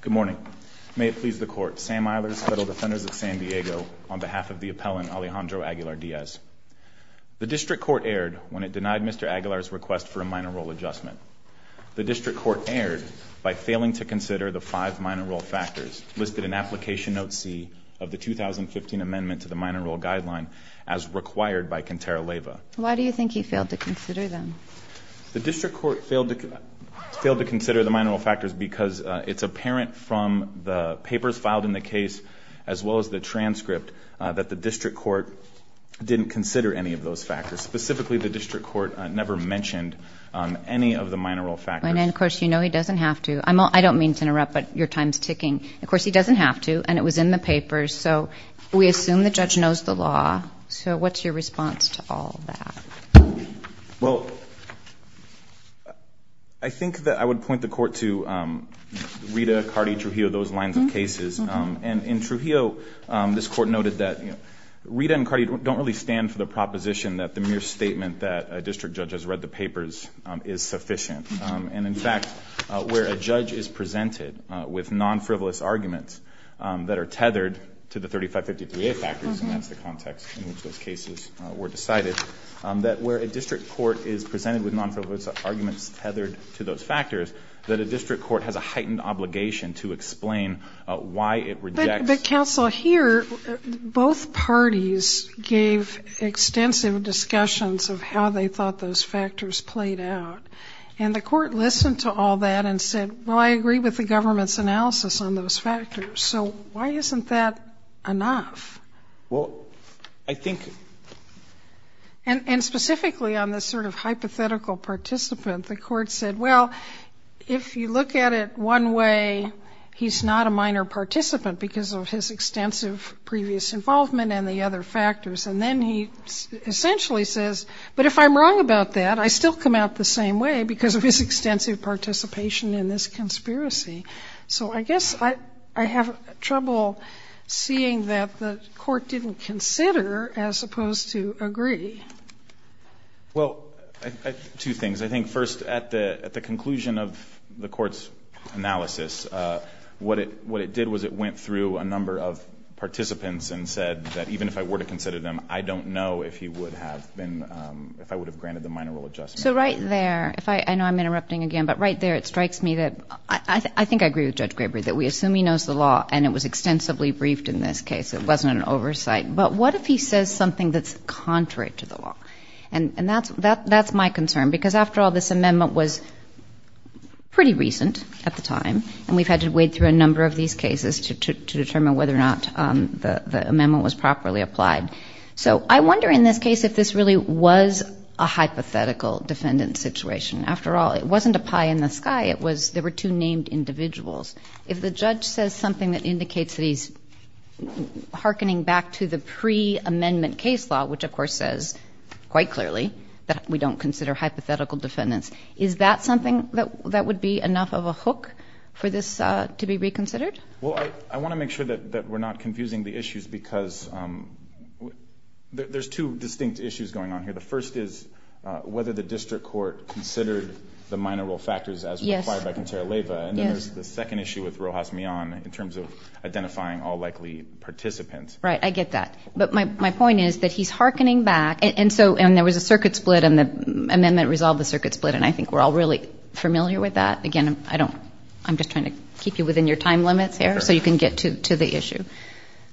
Good morning. May it please the Court, Sam Eilers, Federal Defenders of San Diego, on behalf of the appellant Alejandro Aguilar Diaz. The District Court erred when it denied Mr. Aguilar's request for a minor role adjustment. The District Court erred by failing to consider the five minor role factors listed in Application Note C of the 2015 Amendment to the Minor Role Guideline as required by Cantera-Leva. Why do you think he failed to consider them? The District Court failed to consider the minor role factors because it's apparent from the papers filed in the case, as well as the transcript, that the District Court didn't consider any of those factors. Specifically, the District Court never mentioned any of the minor role factors. And then, of course, you know he doesn't have to. I don't mean to interrupt, but your time's ticking. Of course, he doesn't have to, and it was in the papers, so we assume the judge knows the law. So what's your response to all that? Well, I think that I would point the court to Rita, Cardi, Trujillo, those lines of cases. And in Trujillo, this court noted that Rita and Cardi don't really stand for the proposition that the mere statement that a district judge has read the papers is sufficient. And in fact, where a judge is presented with non-frivolous arguments that are tethered to 3553A factors, and that's the context in which those cases were decided, that where a district court is presented with non-frivolous arguments tethered to those factors, that a district court has a heightened obligation to explain why it rejects... But counsel, here, both parties gave extensive discussions of how they thought those factors played out. And the court listened to all that and said, well, I agree with the government's analysis on those factors, so why isn't that enough? Well, I think... And specifically on this sort of hypothetical participant, the court said, well, if you look at it one way, he's not a minor participant because of his extensive previous involvement and the other factors. And then he essentially says, but if I'm wrong about that, I still come out the same way because of his extensive participation in this conspiracy. So I guess I have trouble seeing that the court didn't consider as opposed to agree. Well, two things. I think first, at the conclusion of the court's analysis, what it did was it went through a number of participants and said that even if I were to consider them, I don't know if he would have been... If I would have granted the minor role So right there, if I... I know I'm interrupting again, but right there, it strikes me that... I think I agree with Judge Graber that we assume he knows the law and it was extensively briefed in this case. It wasn't an oversight. But what if he says something that's contrary to the law? And that's my concern because after all, this amendment was pretty recent at the time and we've had to wade through a number of these cases to determine whether or not the amendment was defendant situation. After all, it wasn't a pie in the sky. It was... There were two named individuals. If the judge says something that indicates that he's hearkening back to the pre-amendment case law, which of course says quite clearly that we don't consider hypothetical defendants, is that something that would be enough of a hook for this to be reconsidered? Well, I want to make sure that we're not confusing the issues because there's two distinct issues going on here. The first is whether the district court considered the minor role factors as required by Contrera-Leva. And then there's the second issue with Rojas Mion in terms of identifying all likely participants. Right. I get that. But my point is that he's hearkening back. And so... And there was a circuit split and the amendment resolved the circuit split. And I think we're all really familiar with that. Again, I don't... I'm just trying to keep you within your time limits here so you can get to the issue.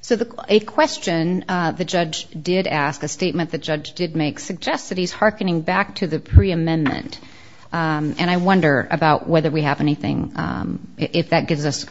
So a question the judge did ask, a statement the judge did make suggests that he's hearkening back to the pre-amendment. And I wonder about whether we have anything... If that gives us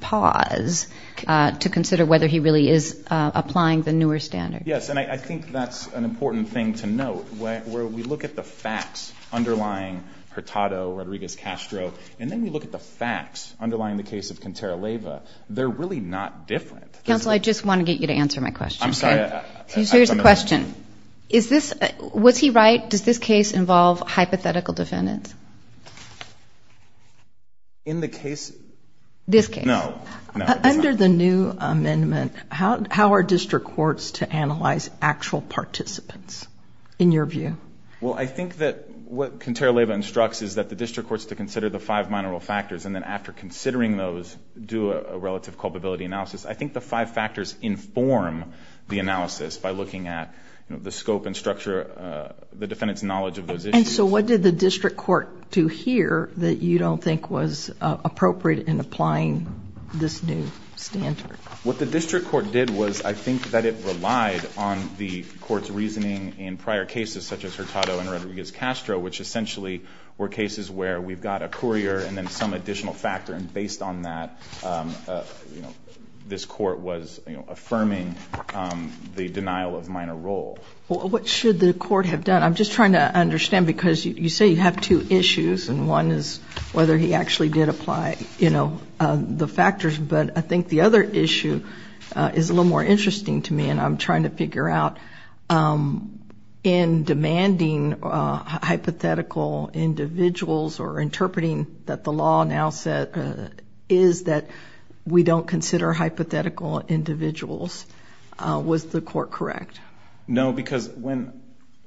pause to consider whether he really is applying the newer standard. Yes. And I think that's an important thing to note where we look at the facts underlying Hurtado, Rodriguez-Castro. And then we look at the facts underlying the case of Contrera-Leva. They're really not different. Counsel, I just want to get you to answer my question. I'm sorry. So here's the question. Is this... Was he right? Does this case involve hypothetical defendants? In the case... This case? No. Under the new amendment, how are district courts to analyze actual participants in your view? Well, I think that what Contrera-Leva instructs is that the district courts to consider the five minor factors. And then after considering those, do a relative culpability analysis. I think the five factors inform the analysis by looking at the scope and structure, the defendant's knowledge of those issues. And so what did the district court do here that you don't think was appropriate in applying this new standard? What the district court did was I think that it relied on the court's reasoning in prior cases such as Hurtado and Rodriguez-Castro, which essentially were cases where we've got a courier and then some additional factor. And based on that, this court was affirming the denial of minor role. What should the court have done? I'm just trying to understand because you say you have two issues. And one is whether he actually did apply the factors. But I think the other issue is a little more interesting to me. And I'm trying to figure out if in demanding hypothetical individuals or interpreting that the law now said is that we don't consider hypothetical individuals, was the court correct? No, because when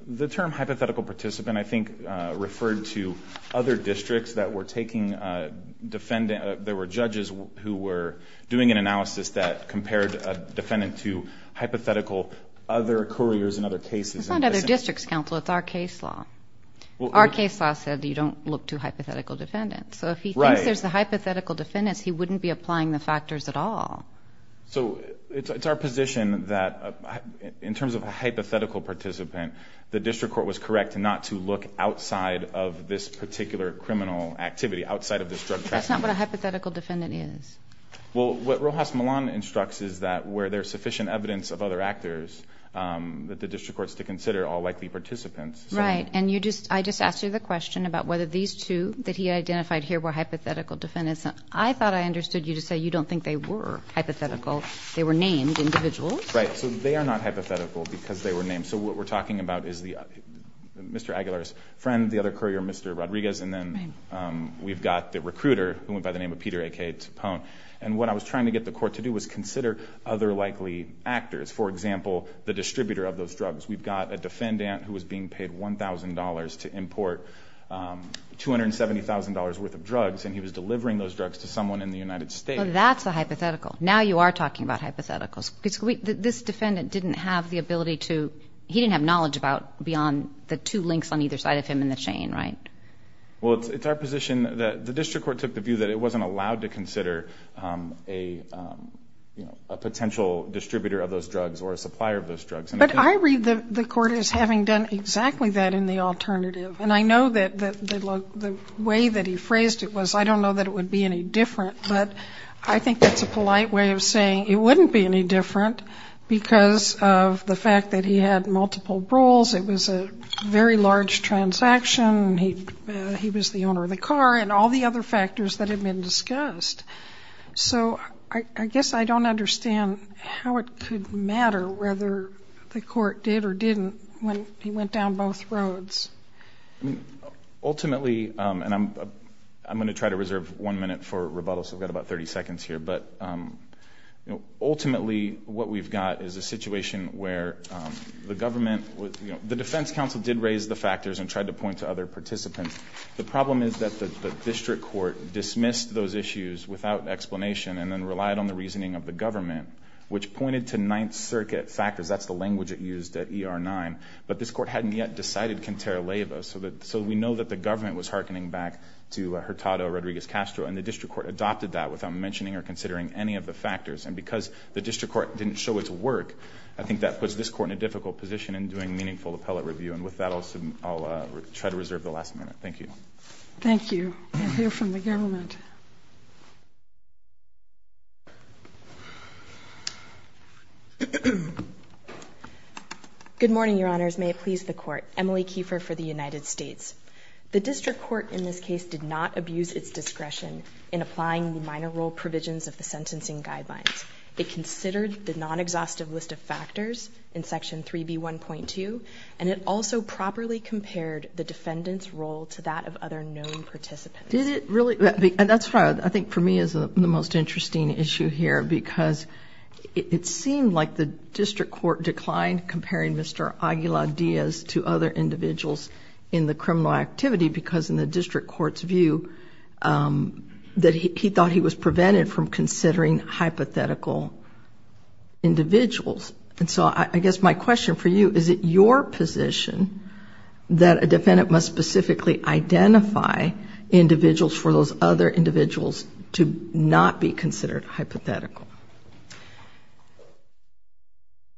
the term hypothetical participant I think referred to other districts that were taking a defendant, there were judges who were doing an analysis that compared a defendant to couriers in other cases. It's not other districts, counsel. It's our case law. Our case law said you don't look to hypothetical defendants. So if he thinks there's the hypothetical defendants, he wouldn't be applying the factors at all. So it's our position that in terms of a hypothetical participant, the district court was correct not to look outside of this particular criminal activity, outside of this drug trafficking. But that's not what a hypothetical defendant is. Well, what Rojas Milan instructs is that where there's sufficient evidence of other actors, that the district court is to consider all likely participants. Right. And I just asked you the question about whether these two that he identified here were hypothetical defendants. I thought I understood you to say you don't think they were hypothetical. They were named individuals. Right. So they are not hypothetical because they were named. So what we're talking about is Mr. Aguilar's friend, the other courier, Mr. Rodriguez. And then we've got the recruiter who went by the name of Peter A.K. Topone. And what I was trying to get the court to do was consider other likely actors. For example, the distributor of those drugs. We've got a defendant who was being paid $1,000 to import $270,000 worth of drugs. And he was delivering those drugs to someone in the United States. That's a hypothetical. Now you are talking about hypotheticals. This defendant didn't have the ability to, he didn't have knowledge about beyond the two links on either side of him in the chain. Right. Well, it's our position that the district court took the view that it wasn't allowed to But I read the court as having done exactly that in the alternative. And I know that the way that he phrased it was, I don't know that it would be any different. But I think that's a polite way of saying it wouldn't be any different because of the fact that he had multiple roles. It was a very large transaction. He was the owner of the car and all the other factors that have been discussed. So I guess I don't understand how it could matter whether the court did or didn't when he went down both roads. I mean, ultimately, and I'm going to try to reserve one minute for rebuttal. So I've got about 30 seconds here. But ultimately, what we've got is a situation where the government, the defense counsel did raise the factors and tried to point to other participants. The problem is that the district court dismissed those issues without explanation and then relied on the reasoning of the government, which pointed to Ninth Circuit factors. That's the language it used at ER-9. But this court hadn't yet decided Quintero Leyva. So we know that the government was hearkening back to Hurtado Rodriguez Castro. And the district court adopted that without mentioning or considering any of the factors. And because the district court didn't show its work, I think that puts this court in a difficult position in doing meaningful appellate review. And with that, I'll try to reserve the last minute. Thank you. Thank you. We'll hear from the government. Good morning, Your Honors. May it please the Court. Emily Kiefer for the United States. The district court in this case did not abuse its discretion in applying the minor role provisions of the sentencing guidelines. It considered the non-exhaustive list of factors in Section 3B1.2. And it also properly compared the defendant's role to that of other known participants. Did it really? And that's what I think for me is the most interesting issue here. Because it seemed like the district court declined comparing Mr. Aguilar-Diaz to other individuals in the criminal activity. Because in the district court's view, that he thought he was prevented from considering hypothetical individuals. And so I guess my question for you, is it your position that a defendant must specifically identify individuals for those other individuals to not be considered hypothetical?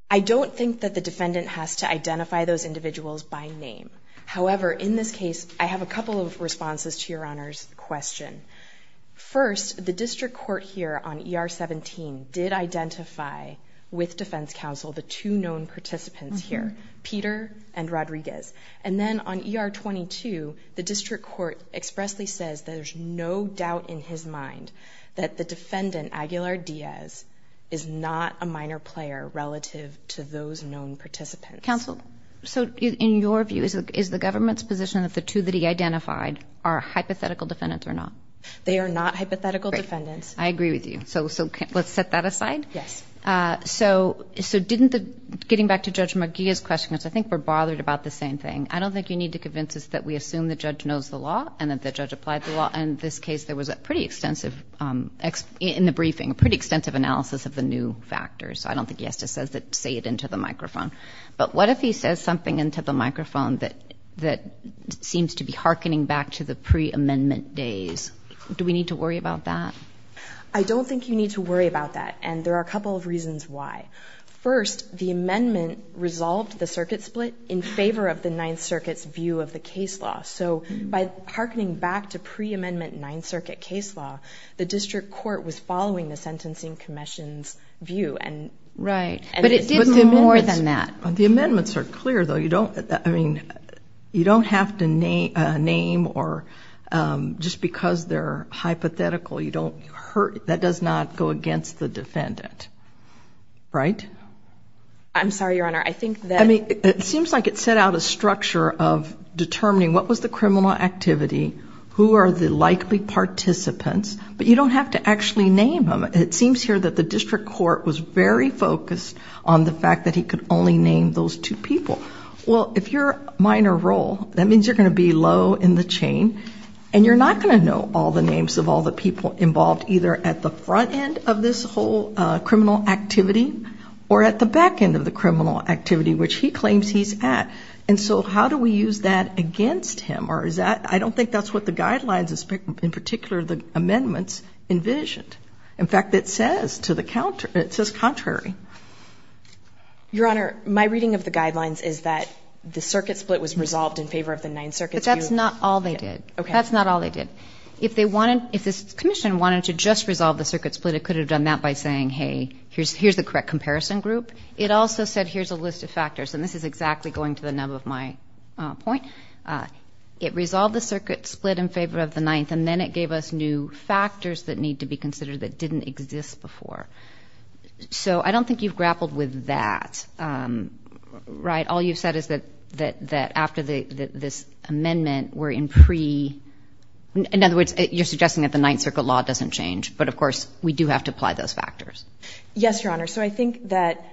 I don't think that the defendant has to identify those individuals by name. However, in this case, I have a couple of responses to Your Honor's question. First, the district court here on ER17 did identify with defense counsel the two known participants here, Peter and Rodriguez. And then on ER22, the district court expressly says there's no doubt in his mind that the defendant, Aguilar-Diaz, is not a minor player relative to those known participants. Counsel, so in your view, is the government's position that the two that he identified are hypothetical defendants or not? They are not hypothetical defendants. I agree with you. So let's set that aside. Yes. So getting back to Judge McGee's question, because I think we're bothered about the same thing. I don't think you need to convince us that we assume the judge knows the law and that the judge applied the law. In this case, there was a pretty extensive, in the briefing, a pretty extensive analysis of the new factors. So I don't think he has to say it into the microphone. But what if he says something into the microphone that seems to be hearkening back to the pre-amendment days? Do we need to worry about that? I don't think you need to worry about that. And there are a couple of reasons why. First, the amendment resolved the circuit split in favor of the Ninth Circuit's view of the case law. So by hearkening back to pre-amendment Ninth Circuit case law, the district court was following the Sentencing Commission's view. Right. But it did more than that. The amendments are clear, though. I mean, you don't have to name or just because they're hypothetical, that does not go against the defendant. Right? I'm sorry, Your Honor. I think that... I mean, it seems like it set out a structure of determining what was the criminal activity, who are the likely participants, but you don't have to actually name them. It seems here that the district court was very focused on the fact that he could only name those two people. Well, if you're minor role, that means you're going to be low in the chain and you're not going to know all the names of all the people involved, either at the front end of this whole criminal activity or at the back end of the criminal activity, which he claims he's at. And so how do we use that against him? Or is that... I don't think that's what the guidelines, in particular, the amendments envisioned. In fact, it says to the counter, it says contrary. Your Honor, my reading of the guidelines is that the circuit split was resolved in favor of the Ninth Circuit. But that's not all they did. Okay. That's not all they did. If they wanted... If this commission wanted to just resolve the circuit split, it could have done that by saying, hey, here's the correct comparison group. It also said, here's a list of factors. And this is exactly going to the nub of my point. It resolved the circuit split in favor of the Ninth, and then it gave us new factors that need to be considered that didn't exist before. So I don't think you've grappled with that, right? All you've said is that after this amendment, we're in pre... In other words, you're suggesting that the Ninth Circuit law doesn't change. But of course, we do have to apply those factors. Yes, Your Honor. So I think that,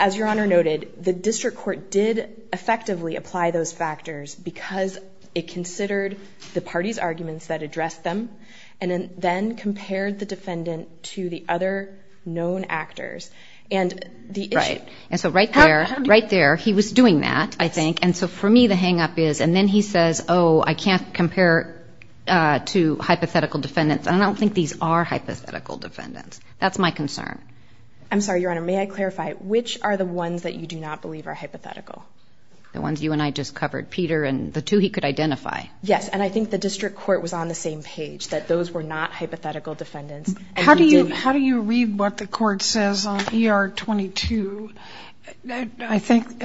as Your Honor noted, the district court did effectively apply those factors because it considered the party's arguments that addressed them and then compared the defendant to the other known actors. And the issue... Right. And so right there, right there, he was doing that, I think. And so for me, the hang-up is... And then he says, oh, I can't compare to hypothetical defendants. I don't think these are hypothetical defendants. That's my concern. I'm sorry, Your Honor. May I clarify? Which are the ones that you do not believe are hypothetical? The ones you and I just covered. Peter and the two he could identify. Yes. And I think the district court was on the same page. That those were not hypothetical defendants. How do you read what the court says on ER 22? I think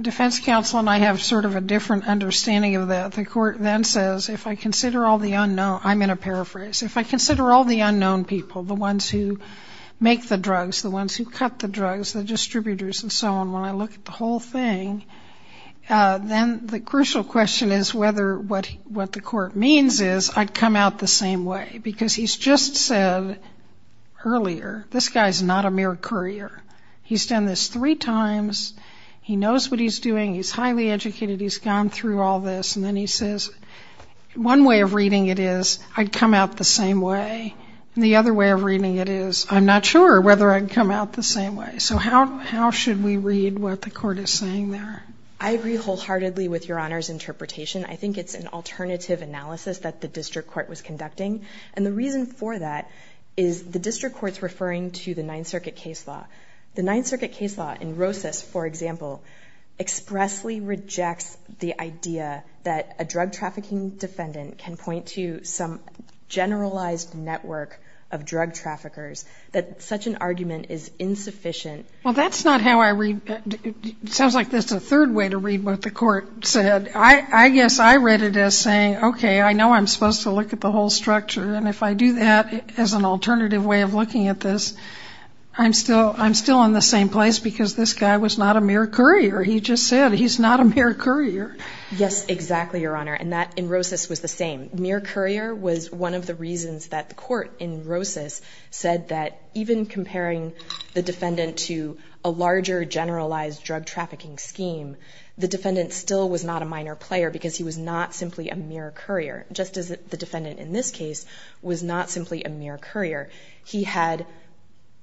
defense counsel and I have sort of a different understanding of that. The court then says, if I consider all the unknown... I'm in a paraphrase. If I consider all the unknown people, the ones who make the drugs, the ones who cut the drugs, the distributors and so on, when I look at the whole thing, then the crucial question is whether what the court means is I'd come out the same way. Because he's just said earlier, this guy's not a mere courier. He's done this three times. He knows what he's doing. He's highly educated. He's gone through all this. And then he says, one way of reading it is I'd come out the same way. And the other way of reading it is I'm not sure whether I'd come out the same way. So how should we read what the court is saying there? I agree wholeheartedly with Your Honor's interpretation. I think it's an alternative analysis that the district court was conducting. And the reason for that is the district court's referring to the Ninth Circuit case law. The Ninth Circuit case law in Rosas, for example, expressly rejects the idea that a drug trafficking defendant can point to some generalized network of drug traffickers. That such an argument is insufficient. Well, that's not how I read... Sounds like this is a third way to read what the court said. I guess I read it as saying, okay, I know I'm supposed to look at the whole structure. And if I do that as an alternative way of looking at this, I'm still in the same place because this guy was not a mere courier. He just said he's not a mere courier. Yes, exactly, Your Honor. And that in Rosas was the same. Mere courier was one of the reasons that the court in Rosas said that even comparing the defendant to a larger generalized drug trafficking scheme, the defendant still was not a minor player because he was not simply a mere courier. Just as the defendant in this case was not simply a mere courier. He had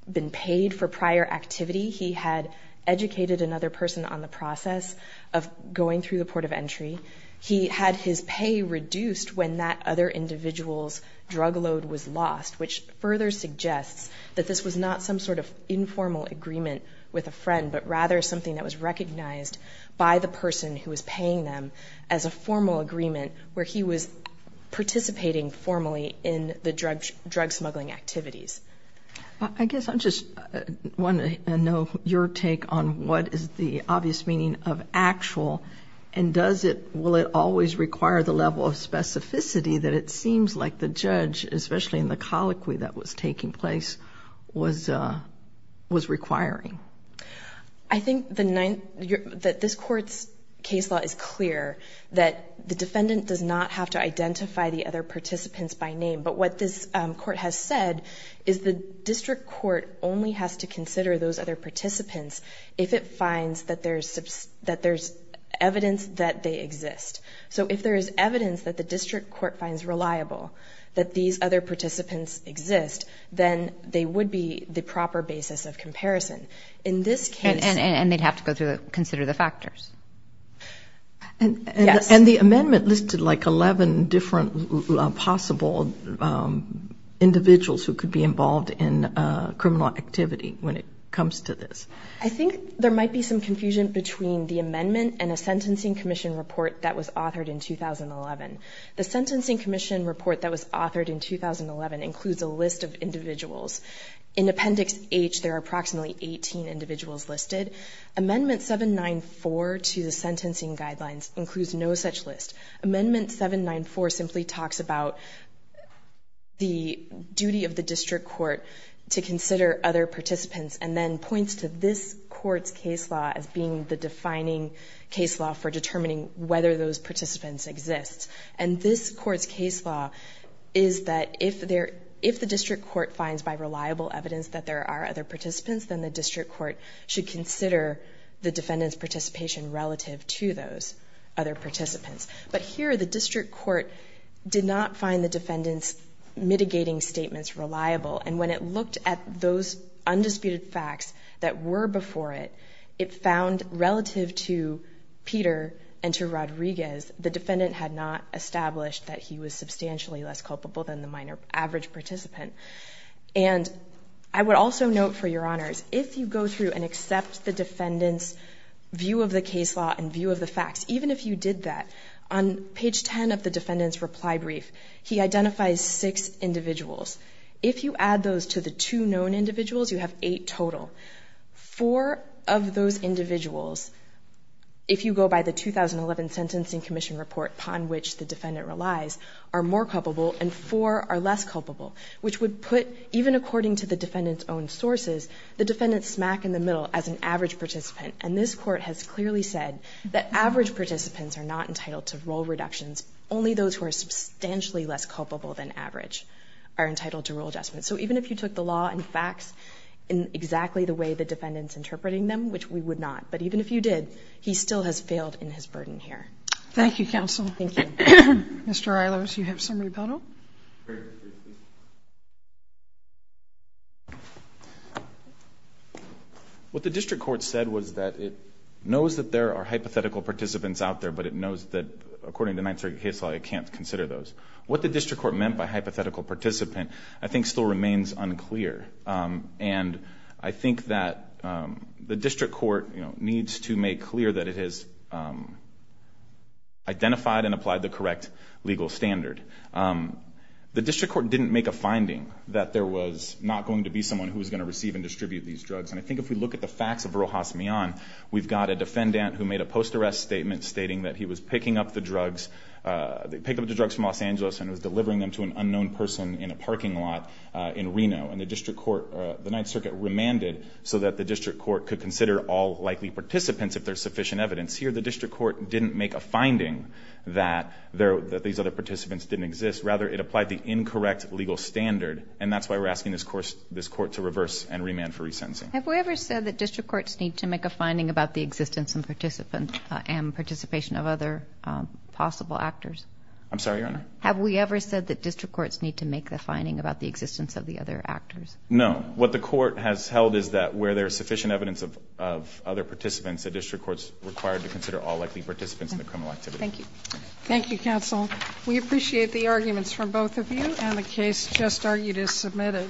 been paid for prior activity. He had educated another person on the process of going through the port of entry. He had his pay reduced when that other individual's drug load was lost, which further suggests that this was not some sort of informal agreement with a friend, but rather something that was recognized by the person who was paying them as a formal agreement where he was participating formally in the drug smuggling activities. I guess I just want to know your take on what is the obvious meaning of actual and will it always require the level of specificity that it seems like the judge, especially in the colloquy that was taking place, was requiring? I think that this court's case law is clear that the defendant does not have to identify the other participants by name, but what this court has said is the district court only has to consider those other participants if it finds that there's evidence that they exist. So if there is evidence that the district court finds reliable that these other participants exist, in this case, and they'd have to consider the factors. And the amendment listed like 11 different possible individuals who could be involved in criminal activity when it comes to this. I think there might be some confusion between the amendment and a sentencing commission report that was authored in 2011. The sentencing commission report that was authored in 2011 includes a list of individuals. In appendix H, there are approximately 18 individuals listed. Amendment 794 to the sentencing guidelines includes no such list. Amendment 794 simply talks about the duty of the district court to consider other participants and then points to this court's case law as being the defining case law for determining whether those participants exist. And this court's case law is that if the district court finds by reliable evidence that there are other participants, then the district court should consider the defendant's participation relative to those other participants. But here, the district court did not find the defendant's mitigating statements reliable. And when it looked at those undisputed facts that were before it, it found relative to established that he was substantially less culpable than the minor average participant. And I would also note for your honors, if you go through and accept the defendant's view of the case law and view of the facts, even if you did that, on page 10 of the defendant's reply brief, he identifies six individuals. If you add those to the two known individuals, you have eight total. Four of those individuals, if you go by the 2011 sentencing commission report upon which the defendant relies, are more culpable and four are less culpable, which would put, even according to the defendant's own sources, the defendant smack in the middle as an average participant. And this court has clearly said that average participants are not entitled to role reductions. Only those who are substantially less culpable than average are entitled to rule adjustments. So even if you took the law and facts in exactly the way the defendant's interpreting them, which we would not, but even if you did, he still has failed in his burden here. Thank you, counsel. Thank you. Mr. Eilers, you have some rebuttal? What the district court said was that it knows that there are hypothetical participants out there, but it knows that according to 930 case law, it can't consider those. What the district court meant by hypothetical participant, I think, still remains unclear. And I think that the district court needs to make clear that it has identified and applied the correct legal standard. The district court didn't make a finding that there was not going to be someone who was going to receive and distribute these drugs. And I think if we look at the facts of Rojas Millan, we've got a defendant who made a post-arrest statement stating that he was picking up the drugs from Los Angeles and was delivering them to an unknown person in a parking lot in Reno. And the district court, the Ninth Circuit, remanded so that the district court could consider all likely participants if there's sufficient evidence. Here, the district court didn't make a finding that these other participants didn't exist. Rather, it applied the incorrect legal standard. And that's why we're asking this court to reverse and remand for resentencing. Have we ever said that district courts need to make a finding about the existence and participation of other possible actors? I'm sorry, Your Honor? Have we ever said that district courts need to make the finding about the existence of the other actors? No. What the court has held is that where there's sufficient evidence of other participants, a district court's required to consider all likely participants in the criminal activity. Thank you. Thank you, counsel. We appreciate the arguments from both of you. And the case just argued is submitted.